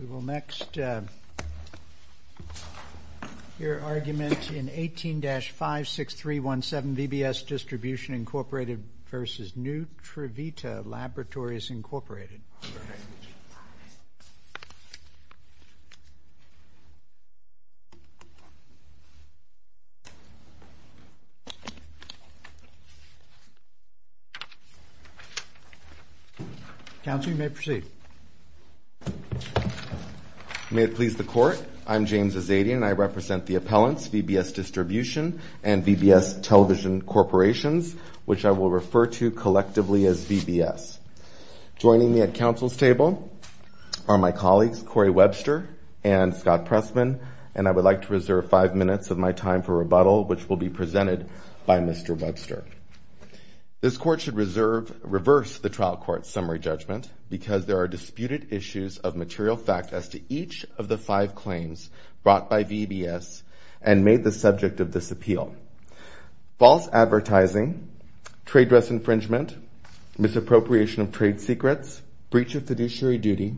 We will next hear argument in 18-56317, VBS Distribution, Inc. v. Nutrivita Laboratories, Inc. May it please the Court, I am James Azzedian and I represent the appellants, VBS Distribution and VBS Television Corporations, which I will refer to collectively as VBS. Joining me at Council's table are my colleagues, Corey Webster and Scott Pressman, and I would like to reserve five minutes of my time for rebuttal, which will be presented by Mr. Webster. This Court should reverse the trial court's summary judgment because there are disputed issues of material fact as to each of the five claims brought by VBS and made the subject of this appeal. False advertising, trade dress infringement, misappropriation of trade secrets, breach of fiduciary duty,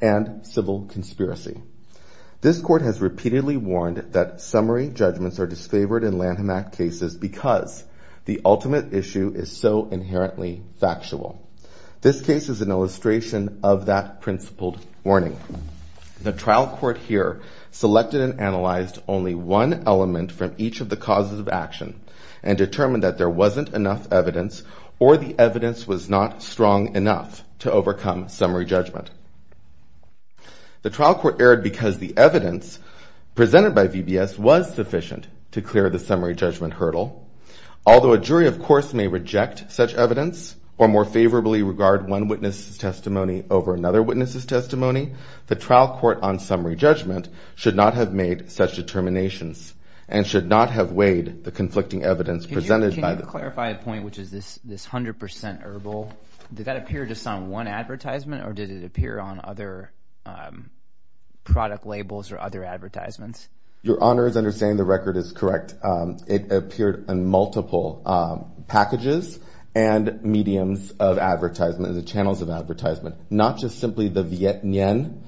and civil conspiracy. This Court has repeatedly warned that summary judgments are disfavored in Lanham Act cases because the ultimate issue is so inherently factual. This case is an illustration of that principled warning. The trial court here selected and analyzed only one element from each of the causes of action and determined that there wasn't enough evidence or the evidence was not strong enough to overcome summary judgment. The trial court erred because the evidence presented by VBS was sufficient to clear the summary judgment hurdle, although a jury of course may reject such evidence or more favorably regard one witness's testimony over another witness's testimony, the trial court on summary judgment should not have made such determinations and should not have weighed the conflicting evidence presented by the. Can you clarify a point, which is this 100% herbal, did that appear just on one advertisement or did it appear on other product labels or other advertisements? Your Honor is understanding the record is correct. It appeared on multiple packages and mediums of advertisement, the channels of advertisement, not just simply the Viet Nien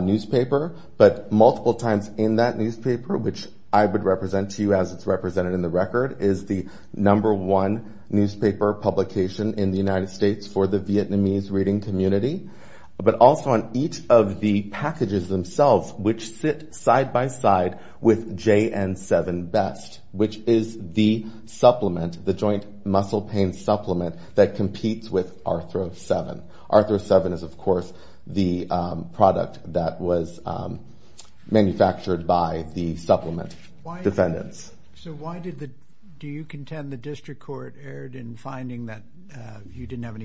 newspaper, but multiple times in that newspaper, which I would represent to you as it's represented in the record, is the number one newspaper publication in the United States for the Vietnamese reading community, but also on each of the which is the supplement, the joint muscle pain supplement that competes with Arthro 7. Arthro 7 is of course the product that was manufactured by the supplement defendants. So why did the, do you contend the district court erred in finding that you didn't have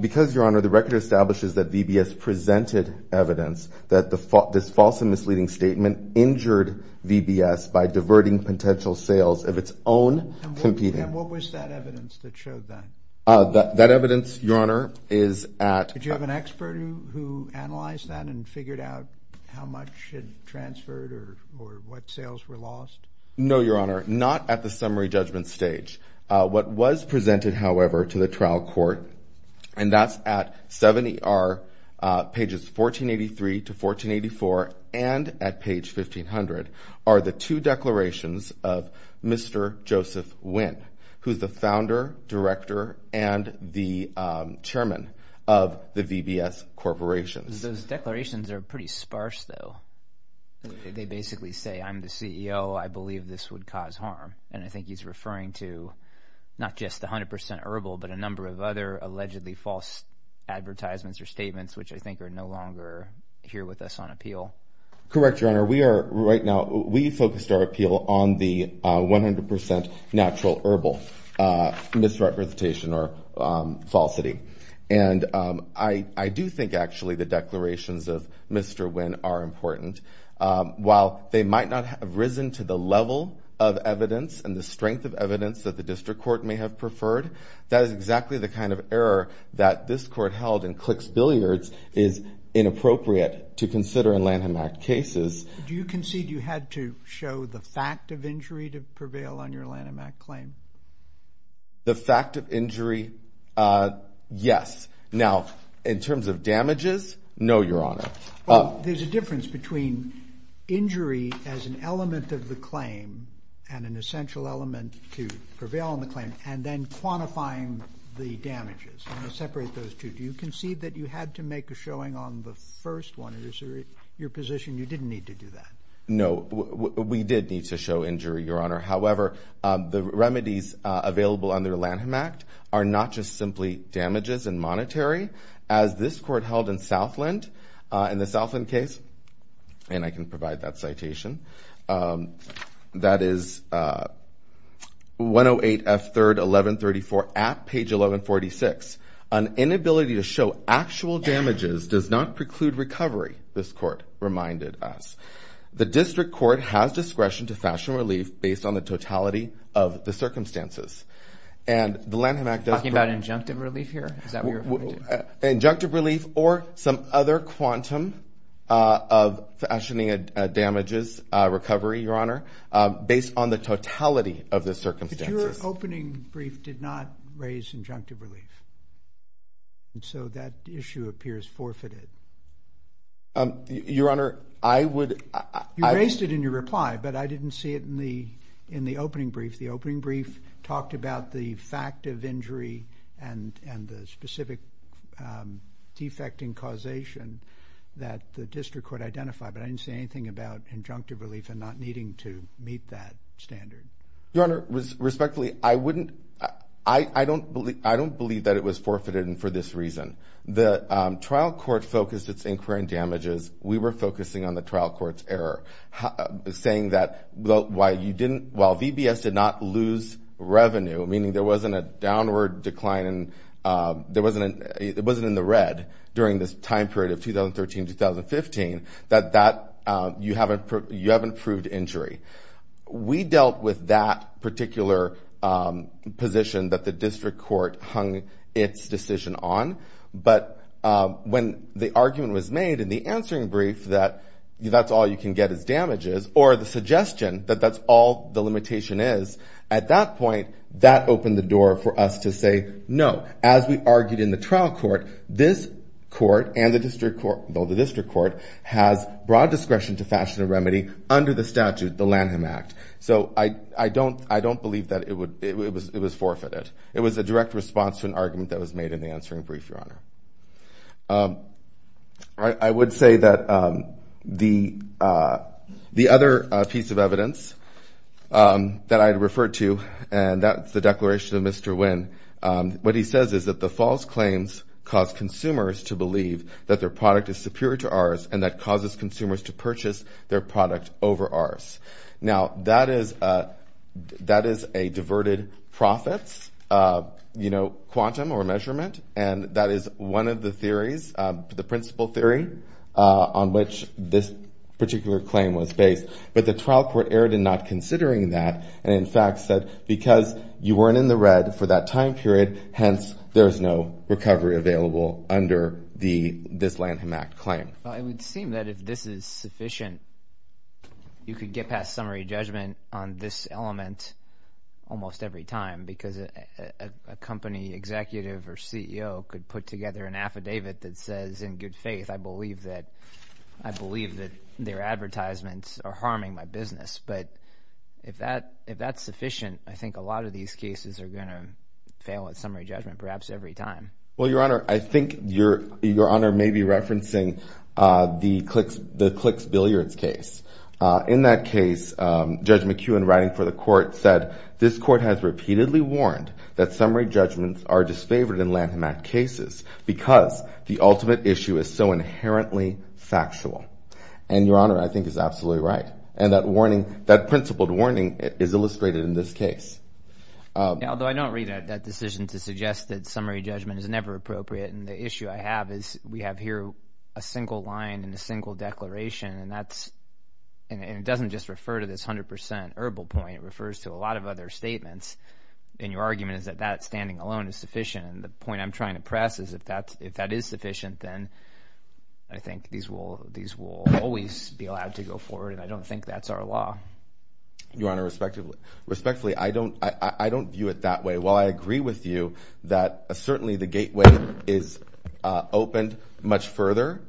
Because Your Honor, the record establishes that VBS presented evidence that the, this false and misleading statement injured VBS by diverting potential sales of its own competing. What was that evidence that showed that? That evidence Your Honor is at, did you have an expert who, who analyzed that and figured out how much had transferred or, or what sales were lost? No, Your Honor, not at the summary judgment stage. What was presented, however, to the trial court and that's at 70 are pages 1483 to 1484 and at page 1500 are the two declarations of Mr. Joseph Winn, who's the founder, director and the chairman of the VBS corporations. Those declarations are pretty sparse though. They basically say I'm the CEO, I believe this would cause harm and I think he's referring to not just 100% herbal, but a number of other allegedly false advertisements or statements, which I think are no longer here with us on appeal. Correct, Your Honor. We are right now, we focused our appeal on the 100% natural herbal misrepresentation or falsity and I do think actually the declarations of Mr. Winn are important. While they might not have risen to the level of evidence and the strength of evidence that the district court may have preferred, that is exactly the kind of error that this court held in Clicks Billiards is inappropriate to consider in Lanham Act cases. Do you concede you had to show the fact of injury to prevail on your Lanham Act claim? The fact of injury, yes. Now in terms of damages, no, Your Honor. There's a difference between injury as an element of the claim and an essential element to prevail on the claim and then quantifying the damages. I'm going to separate those two. Do you concede that you had to make a showing on the first one? Is there your position you didn't need to do that? No, we did need to show injury, Your Honor. However, the remedies available under Lanham Act are not just simply damages and monetary. As this court held in Southland, in the Southland case, and I can provide that citation, that is 108 F. 3rd 1134 at page 1146, an inability to show actual damages does not preclude recovery, this court reminded us. The district court has discretion to fashion relief based on the totality of the circumstances. And the Lanham Act does- Injunctive relief or some other quantum of fashioning damages recovery, Your Honor, based on the totality of the circumstances. But your opening brief did not raise injunctive relief. And so that issue appears forfeited. Your Honor, I would- You raised it in your reply, but I didn't see it in the opening brief. The opening brief talked about the fact of injury and the specific defecting causation that the district could identify, but I didn't see anything about injunctive relief and not needing to meet that standard. Your Honor, respectfully, I wouldn't- I don't believe that it was forfeited and for this reason. The trial court focused its inquiry on damages. We were focusing on the trial court's error, saying that while VBS did not lose revenue, meaning there wasn't a downward decline and it wasn't in the red during this time period of 2013-2015, that you haven't proved injury. We dealt with that particular position that the district court hung its decision on. But when the argument was made in the answering brief that that's all you can get is damages or the suggestion that that's all the limitation is, at that point, that opened the door for us to say, no. As we argued in the trial court, this court and the district court has broad discretion to fashion a remedy under the statute, the Lanham Act. So I don't believe that it was forfeited. It was a direct response to an argument that was made in the answering brief, Your Honor. I would say that the other piece of evidence that I'd refer to, and that's the declaration of Mr. Nguyen, what he says is that the false claims cause consumers to believe that their product is superior to ours and that causes consumers to purchase their product over ours. Now, that is a diverted profits, you know, quantum or measurement, and that is one of the theories, the principle theory, on which this particular claim was based. But the trial court erred in not considering that and, in fact, said because you weren't in the red for that time period, hence, there's no recovery available under this Lanham Act claim. Well, it would seem that if this is sufficient, you could get past summary judgment on this element almost every time because a company executive or CEO could put together an affidavit that says, in good faith, I believe that their advertisements are harming my business. But if that's sufficient, I think a lot of these cases are going to fail at summary judgment perhaps every time. Well, Your Honor, I think Your Honor may be referencing the Clicks Billiards case. In that case, Judge McEwen, writing for the court, said, this court has repeatedly warned that summary judgments are disfavored in Lanham Act cases because the ultimate issue is so inherently factual. And Your Honor, I think is absolutely right. And that warning, that principled warning is illustrated in this case. Although I don't read that decision to suggest that summary judgment is never appropriate. And the issue I have is we have here a single line and a single declaration. And that's and it doesn't just refer to this 100 percent herbal point. It refers to a lot of other statements. And your argument is that that standing alone is sufficient. And the point I'm trying to press is if that's if that is sufficient, then I think these will these will always be allowed to go forward. And I don't think that's our law. Your Honor, respectfully, respectfully, I don't I don't view it that way. While I agree with you that certainly the gateway is opened much further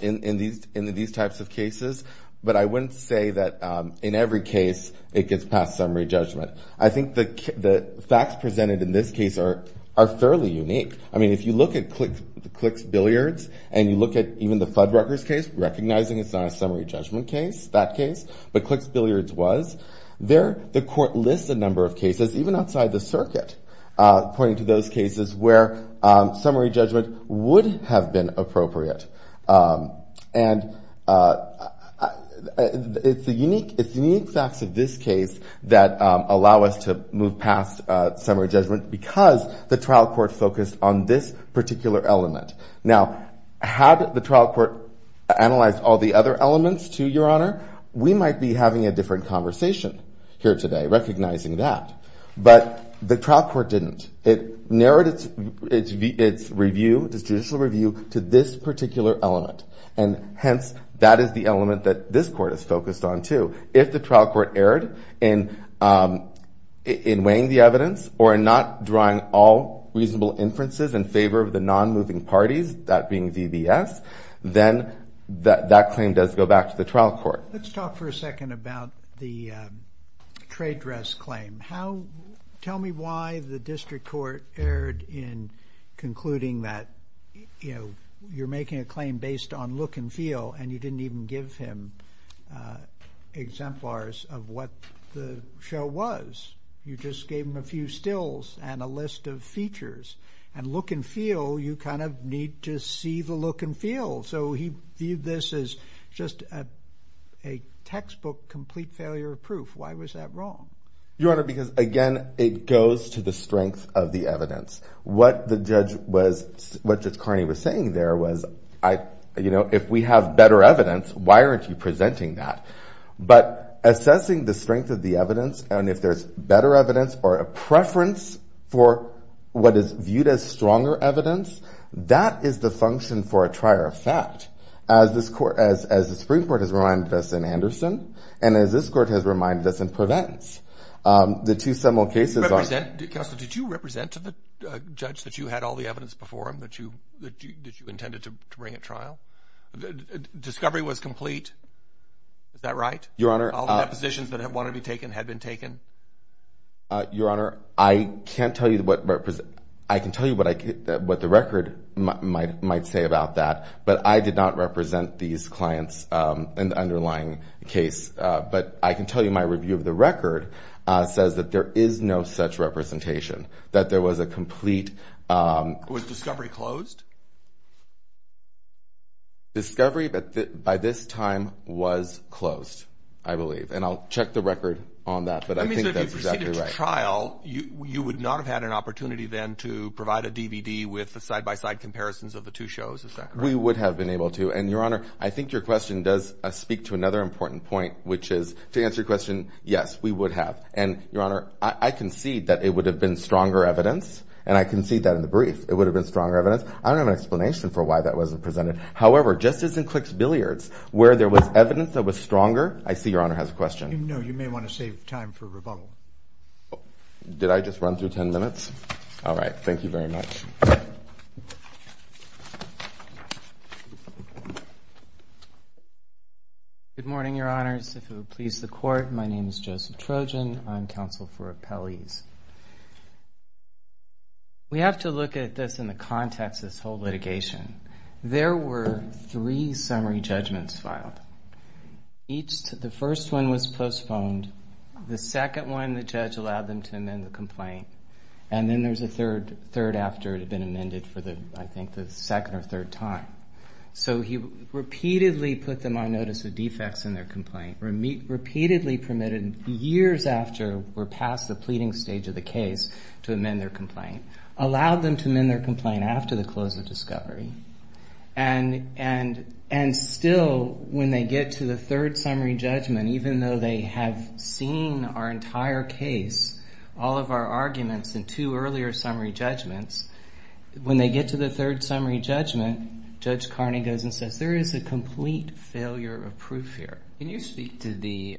in these in these types of cases. But I wouldn't say that in every case it gets past summary judgment. I think the facts presented in this case are are fairly unique. I mean, if you look at the Clicks Billiards and you look at even the Fuddruckers case, recognizing it's not a summary judgment case, that case. But Clicks Billiards was there. The court lists a number of cases, even outside the circuit, pointing to those cases where summary judgment would have been appropriate. And it's a unique it's unique facts of this case that allow us to move past summary judgment because the trial court focused on this particular element. Now, had the trial court analyzed all the other elements, too, Your Honor, we might be having a different conversation here today recognizing that. But the trial court didn't. It narrowed its review, its judicial review, to this particular element. And hence, that is the element that this court is focused on, too. If the trial court erred in in weighing the evidence or in not drawing all reasonable inferences in favor of the non-moving parties, that being DBS, then that claim does go back to the trial court. Let's talk for a second about the trade dress claim. How tell me why the district court erred in concluding that, you know, you're making a claim based on look and feel and you didn't even give him exemplars of what the show was. You just gave him a few stills and a list of features and look and feel. You kind of need to see the look and feel. So he viewed this as just a textbook, complete failure of proof. Why was that wrong? Your Honor, because again, it goes to the strength of the evidence. What the judge was, what Judge Carney was saying there was, you know, if we have better evidence, why aren't you presenting that? But assessing the strength of the evidence and if there's better evidence or a preference for what is viewed as stronger evidence, that is the function for a trier of fact. As this court, as the Supreme Court has reminded us in Anderson and as this court has reminded us in Prevents, the two similar cases. Counselor, did you represent to the judge that you had all the evidence before him that you that you intended to bring at trial? Discovery was complete. Is that right, Your Honor? All the depositions that have wanted to be taken had been taken. Your Honor, I can't tell you what I can tell you what I what the record might say about that, but I did not represent these clients in the underlying case. But I can tell you my review of the record says that there is no such representation, that there was a complete discovery closed. Discovery by this time was closed, I believe, and I'll check the record on that. But I mean, if you proceeded to trial, you would not have had an opportunity then to provide a DVD with the side by side comparisons of the two shows, is that correct? We would have been able to. And, Your Honor, I think your question does speak to another important point, which is to answer your question. Yes, we would have. And, Your Honor, I concede that it would have been stronger evidence and I concede that I don't know if it would have been stronger evidence in the brief. I don't have an explanation for why that wasn't presented. However, just as in Clicks Billiards, where there was evidence that was stronger. I see Your Honor has a question. No, you may want to save time for rebuttal. Did I just run through 10 minutes? All right. Thank you very much. Good morning, Your Honors. If it would please the court. My name is Joseph Trojan. I'm counsel for appellees. We have to look at this in the context of this whole litigation. There were three summary judgments filed. Each, the first one was postponed. The second one, the judge allowed them to amend the complaint. And then there's a third, third after it had been amended for the, I think, the second or third time. So he repeatedly put them on notice of defects in their complaint, repeatedly permitted years after we're past the pleading stage of the case to amend their complaint, allowed them to amend their complaint after the close of discovery. And, and, and still when they get to the third summary judgment, even though they have seen our entire case, all of our arguments and two earlier summary judgments, when they get to the third summary judgment, Judge Carney goes and says, there is a complete failure of proof here. Can you speak to the,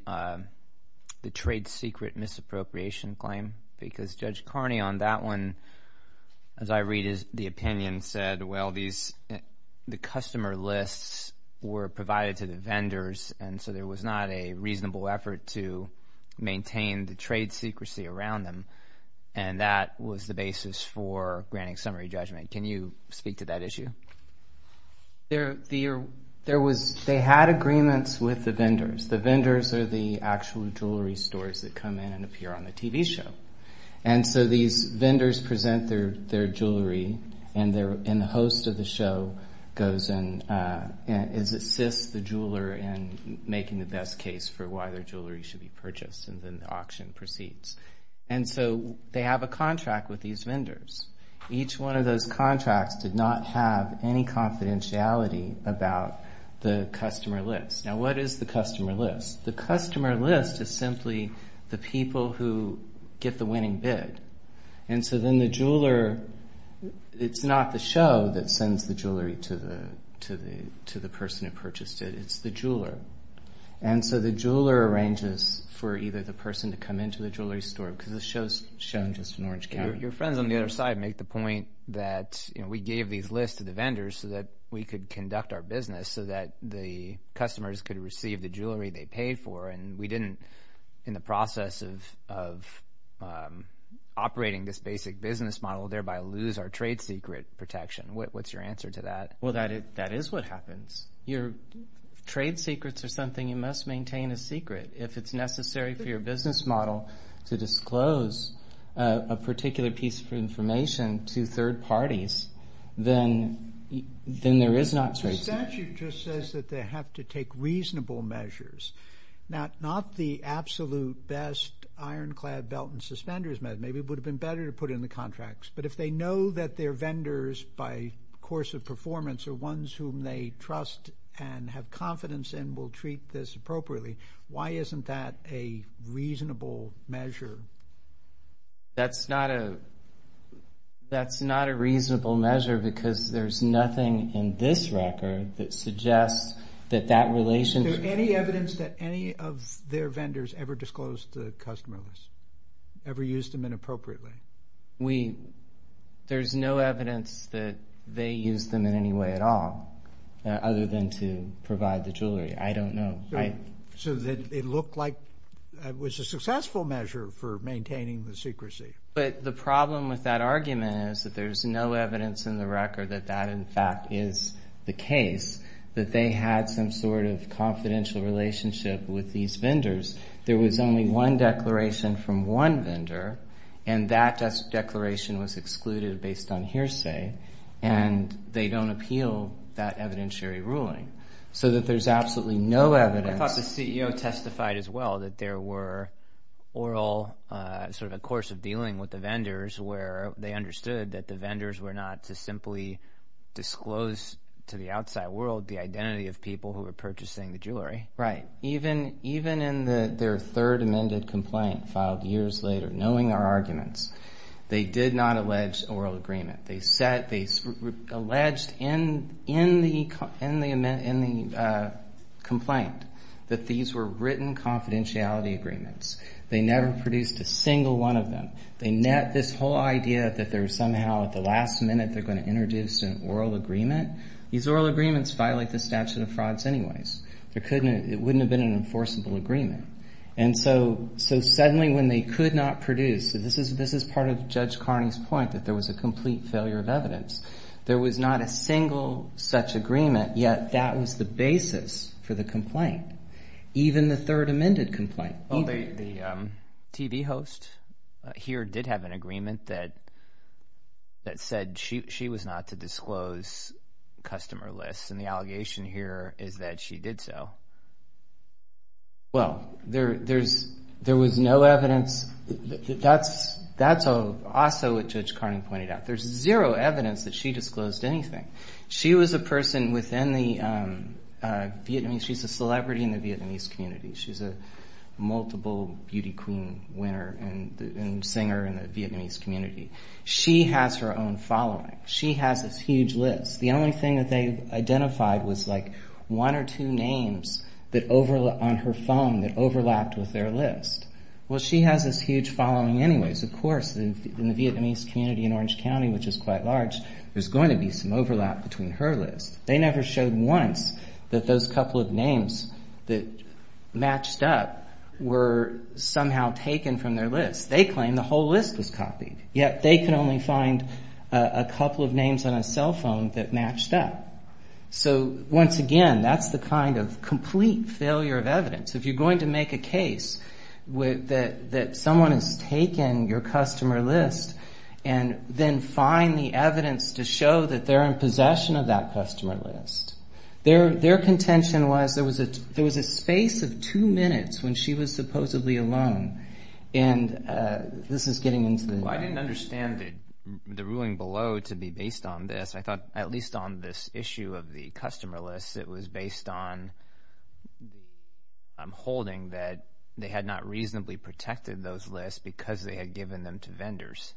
the trade secret misappropriation claim? Because Judge Carney on that one, as I read is the opinion said, well, these, the customer lists were provided to the vendors. And so there was not a reasonable effort to maintain the trade secrecy around them. And that was the basis for granting summary judgment. Can you speak to that issue? There, there, there was, they had agreements with the vendors. The vendors are the actual jewellery stores that come in and appear on the TV show. And so these vendors present their, their jewellery and their, and the host of the show goes and assists the jeweller in making the best case for why their jewellery should be purchased. And then the auction proceeds. And so they have a contract with these vendors. Each one of those contracts did not have any confidentiality about the customer list. Now, what is the customer list? The customer list is simply the people who get the winning bid. And so then the jeweller, it's not the show that sends the jewellery to the, to the, to the person who purchased it. It's the jeweller. And so the jeweller arranges for either the person to come into the jewellery store, because the show's shown just in Orange County. Your friends on the other side make the point that, you know, we gave these lists to the vendors so that we could conduct our business so that the customers could receive the jewellery they paid for. And we didn't, in the process of, of, um, operating this basic business model thereby lose our trade secret protection. What, what's your answer to that? Well, that it, that is what happens. Your trade secrets are something you must maintain a secret if it's necessary for your business model to disclose a particular piece of information to third parties, then, then there is not trade secret. The statute just says that they have to take reasonable measures. Now, not the absolute best ironclad belt and suspenders measure. Maybe it would have been better to put in the contracts, but if they know that their vendors by course of performance are ones whom they trust and have confidence in will treat this appropriately, why isn't that a reasonable measure? That's not a, that's not a reasonable measure because there's nothing in this record that suggests that that relationship. Is there any evidence that any of their vendors ever disclosed the customer list, ever used them inappropriately? We, there's no evidence that they used them in any way at all, other than to provide the jewelry. I don't know. So that it looked like it was a successful measure for maintaining the secrecy. But the problem with that argument is that there's no evidence in the record that that in fact is the case, that they had some sort of confidential relationship with these vendors. There was only one declaration from one vendor and that declaration was excluded based on hearsay and they don't appeal that evidentiary ruling. So that there's absolutely no evidence. I thought the CEO testified as well that there were oral sort of a course of dealing with the vendors where they understood that the vendors were not to simply disclose to the outside world the identity of people who were purchasing the jewelry. Right. Even, even in the, their third amended complaint filed years later, knowing their arguments, they did not allege oral agreement. They said, they alleged in, in the, in the amendment, in the complaint that these were written confidentiality agreements. They never produced a single one of them. They net this whole idea that there was somehow at the last minute, they're going to introduce an oral agreement. These oral agreements violate the statute of frauds anyways. There couldn't, it wouldn't have been an enforceable agreement. And so, so suddenly when they could not produce, this is, this is part of Judge Carney's point that there was a complete failure of evidence. There was not a single such agreement, yet that was the basis for the complaint, even the third amended complaint. Well, the, the TV host here did have an agreement that, that said she, she was not to disclose customer lists. And the allegation here is that she did so. Well, there, there's, there was no evidence. That's, that's also what Judge Carney pointed out. There's zero evidence that she disclosed anything. She was a person within the Vietnamese, she's a celebrity in the Vietnamese community. She's a multiple beauty queen winner and singer in the Vietnamese community. She has her own following. She has this huge list. The only thing that they identified was like one or two names that overla, on her phone that overlapped with their list. Well, she has this huge following anyways, of course, in the Vietnamese community in Orange County, which is quite large, there's going to be some overlap between her list. They never showed once that those couple of names that matched up were somehow taken from their list. They claim the whole list was copied, yet they can only find a couple of names on a cell phone that matched up. So once again, that's the kind of complete failure of evidence. If you're going to make a case with that, that someone has taken your customer list and then find the evidence to show that they're in possession of that customer list, their, their contention was there was a, there was a space of two minutes when she was supposedly alone. And this is getting into the, Well, I didn't understand the, the ruling below to be based on this. I thought at least on this issue of the customer list, it was based on, I am holding that they had not reasonably protected those lists because they had given them to vendors.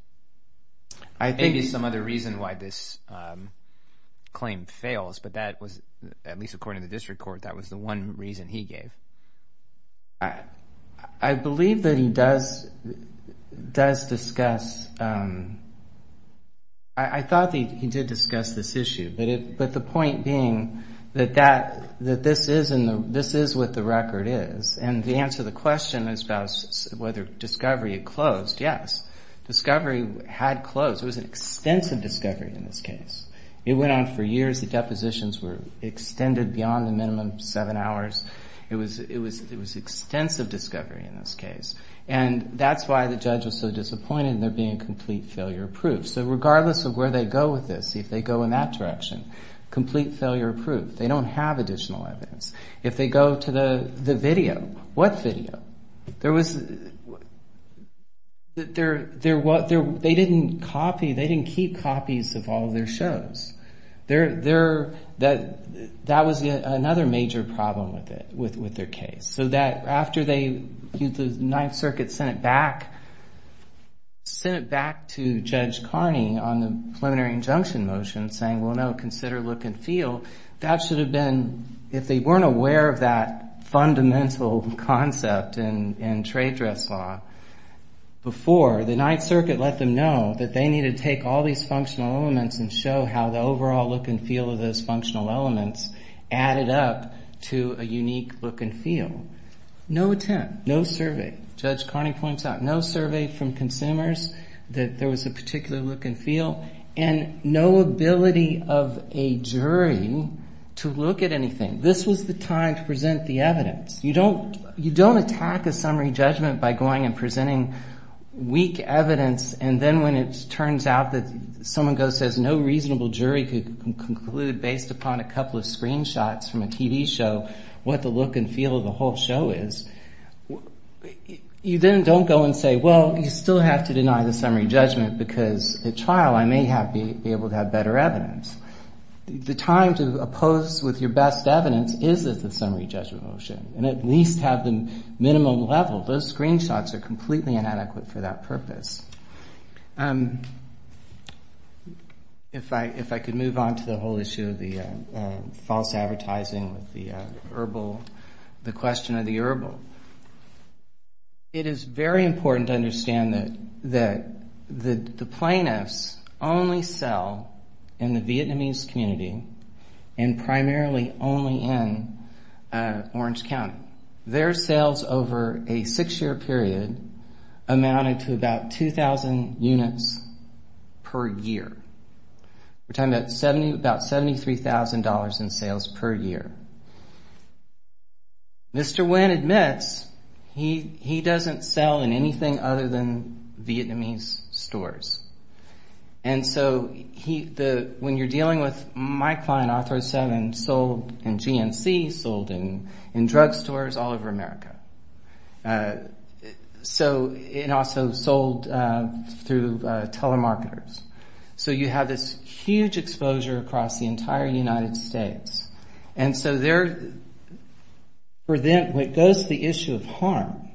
I think there's some other reason why this claim fails, but that was at least according to the district court, that was the one reason he gave. I believe that he does, does discuss, I thought that he did discuss this issue, but it, but the point being that that, that this is in the, this is what the record is. And the answer to the question is about whether discovery had closed. Yes, discovery had closed. It was an extensive discovery in this case. It went on for years. The depositions were extended beyond the minimum seven hours. It was, it was, it was extensive discovery in this case. And that's why the judge was so disappointed in there being complete failure proof. So regardless of where they go with this, if they go in that direction, complete failure proof, they don't have additional evidence. If they go to the video, what video? There was, they didn't copy, they didn't keep copies of all of their shows. There, there, that, that was another major problem with it, with, with their case. So that after they, the Ninth Circuit sent it back, sent it back to Judge Carney on the preliminary injunction motion saying, well, no, consider look and feel. That should have been, if they weren't aware of that fundamental concept in, in trade dress law before, the Ninth Circuit let them know that they need to take all these functional elements and show how the overall look and feel of those No attempt, no survey. Judge Carney points out no survey from consumers that there was a particular look and feel and no ability of a jury to look at anything. This was the time to present the evidence. You don't, you don't attack a summary judgment by going and presenting weak evidence. And then when it turns out that someone goes, says no reasonable jury could conclude based upon a couple of screenshots from a TV show, what the look and feel of the whole show is, you then don't go and say, well, you still have to deny the summary judgment because at trial, I may have be able to have better evidence. The time to oppose with your best evidence is at the summary judgment motion, and at least have the minimum level. Those screenshots are completely inadequate for that purpose. If I, if I could move on to the whole issue of the false advertising with the question of the herbal. It is very important to understand that that the plaintiffs only sell in the Vietnamese community and primarily only in Orange County. Their sales over a six year period amounted to about 2,000 units per year. We're talking about 70, about $73,000 in sales per year. Mr. Nguyen admits he, he doesn't sell in anything other than Vietnamese stores. And so he, the, when you're dealing with my client, Author 7, sold in GNC, sold in drugstores all over America. So it also sold through telemarketers. So you have this huge exposure across the entire United States. And so there, for them, when it goes to the issue of harm,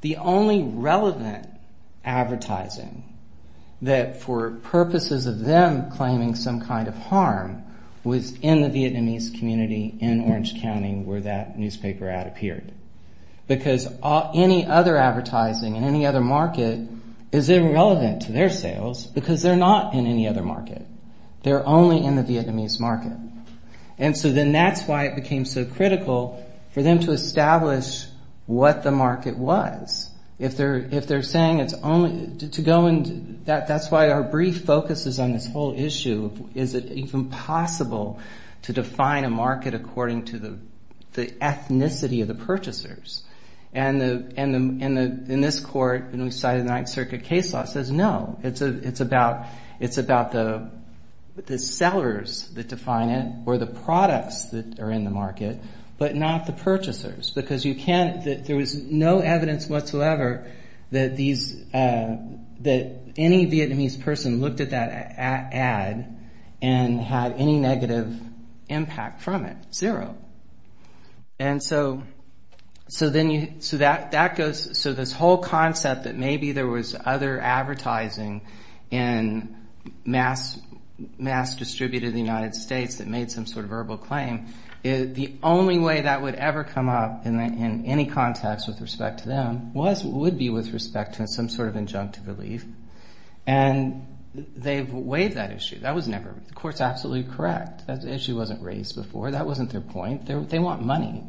the only relevant advertising that for purposes of them claiming some kind of harm was in the Vietnamese community in Orange County where that newspaper ad appeared. Because any other advertising in any other market is irrelevant to their sales because they're not in any other market. They're only in the Vietnamese market. And so then that's why it became so critical for them to establish what the market was. If they're, if they're saying it's only to go into that, that's why our brief focuses on this whole issue. Is it even possible to define a market according to the ethnicity of the purchasers? And the, and the, in this court, when we cited the Ninth Circuit case law, it says no. It's a, it's about, it's about the, the sellers that define it or the products that are in the market, but not the purchasers. Because you can't, there was no evidence whatsoever that these, that any Vietnamese person looked at that ad and had any negative impact from it, zero. And so, so then you, so that, that goes, so this whole concept that maybe there was other advertising in mass, mass distributed in the United States that made some sort of verbal claim, the only way that would ever come up in any context with respect to them was, would be with respect to some sort of injunctive relief. And they've waived that issue. That was never, the court's absolutely correct. That issue wasn't raised before. That wasn't their point. They want money.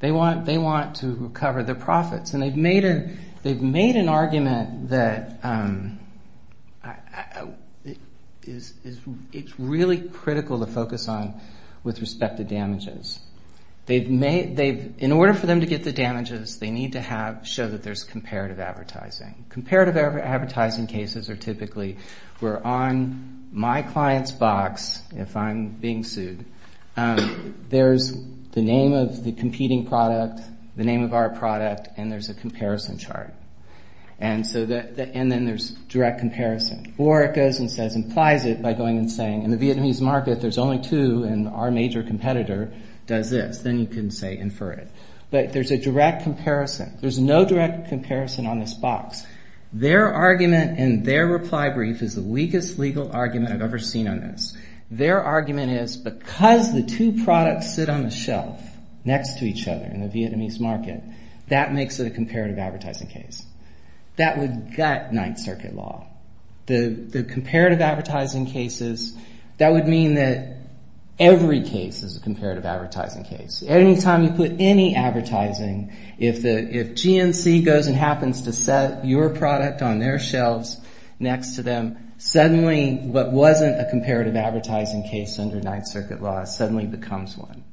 They want, they want to recover their profits. And they've made a, they've made an argument that is, is, it's really critical to focus on with respect to damages. They've made, they've, in order for them to get the damages, they need to have, show that there's comparative advertising. Comparative advertising cases are typically where on my client's box, if I'm being sued, there's the name of the competing product, the name of our product, and there's a comparison chart. And so that, and then there's direct comparison, or it goes and says, implies it by going and saying, in the Vietnamese market, there's only two, and our major competitor does this. Then you can say, infer it. But there's a direct comparison. There's no direct comparison on this box. Their argument and their reply brief is the weakest legal argument I've ever seen on this. Their argument is because the two products sit on the shelf next to each other in the Vietnamese market. That makes it a comparative advertising case. That would gut Ninth Circuit law. The comparative advertising cases, that would mean that every case is a comparative advertising case. Anytime you put any advertising, if the, if GNC goes and happens to set your product on their shelves next to them, suddenly what wasn't a comparative advertising case under Ninth Circuit law suddenly becomes one.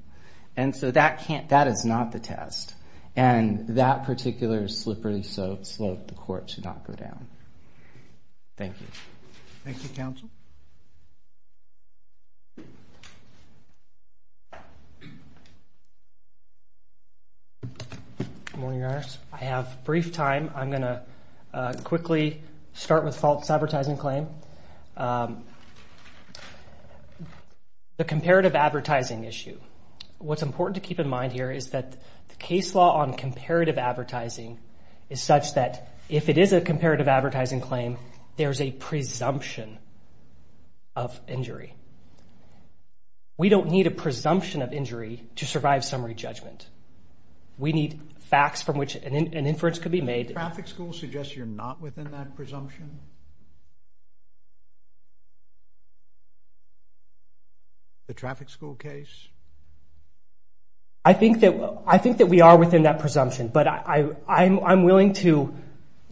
And so that can't, that is not the test. And that particular slippery slope, the court should not go down. Thank you. Thank you, counsel. Good morning, Your Honor. I have brief time. I'm going to quickly start with false advertising claim. Um, the comparative advertising issue. What's important to keep in mind here is that the case law on comparative advertising is such that if it is a comparative advertising claim, there's a presumption of injury. We don't need a presumption of injury to survive summary judgment. We need facts from which an inference could be made. Traffic school suggests you're not within that presumption. The traffic school case? I think that, I think that we are within that presumption, but I, I'm, I'm willing to,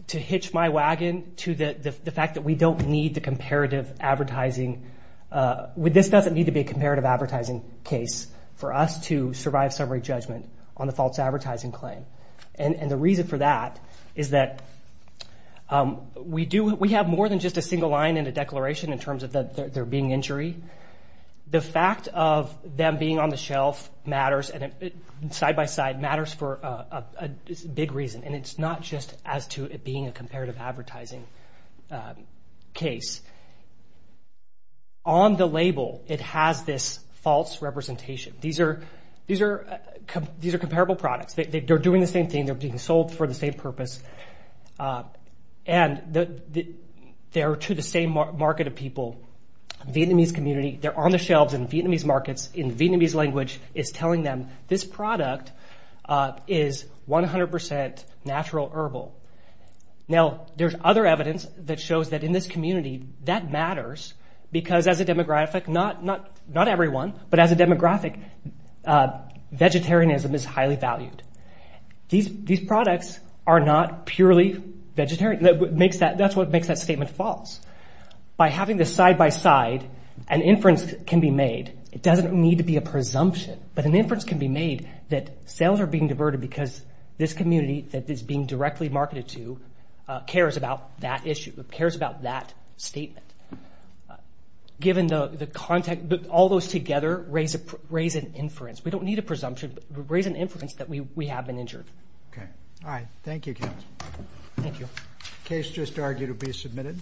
to hitch my wagon to the, the fact that we don't need the comparative advertising, uh, with, this doesn't need to be a comparative advertising case for us to survive summary judgment on the false advertising claim. And, and the reason for that is that, um, we do, we have more than just a single line and a declaration in terms of the, they're being injury. The fact of them being on the shelf matters and side by side matters for a big reason. And it's not just as to it being a comparative advertising, um, case. On the label, it has this false representation. These are, these are, these are comparable products. They, they, they're doing the same thing. They're being sold for the same purpose. Uh, and the, the, they're to the same market of people, Vietnamese community. They're on the shelves in Vietnamese markets in Vietnamese language is telling them this product, uh, is 100% natural herbal. Now there's other evidence that shows that in this community that matters because as a demographic, not, not, not everyone, but as a demographic, uh, vegetarianism is highly valued. These, these products are not purely vegetarian. That makes that, that's what makes that statement false. By having the side by side, an inference can be made. It doesn't need to be a presumption, but an inference can be made that sales are being diverted because this community that is being directly marketed to, uh, cares about that issue, cares about that statement. Given the, the contact, all those together, raise a, raise an inference. We don't need a presumption. Raise an inference that we, we have been injured. Okay. All right. Thank you. Thank you. Case just argued to be submitted.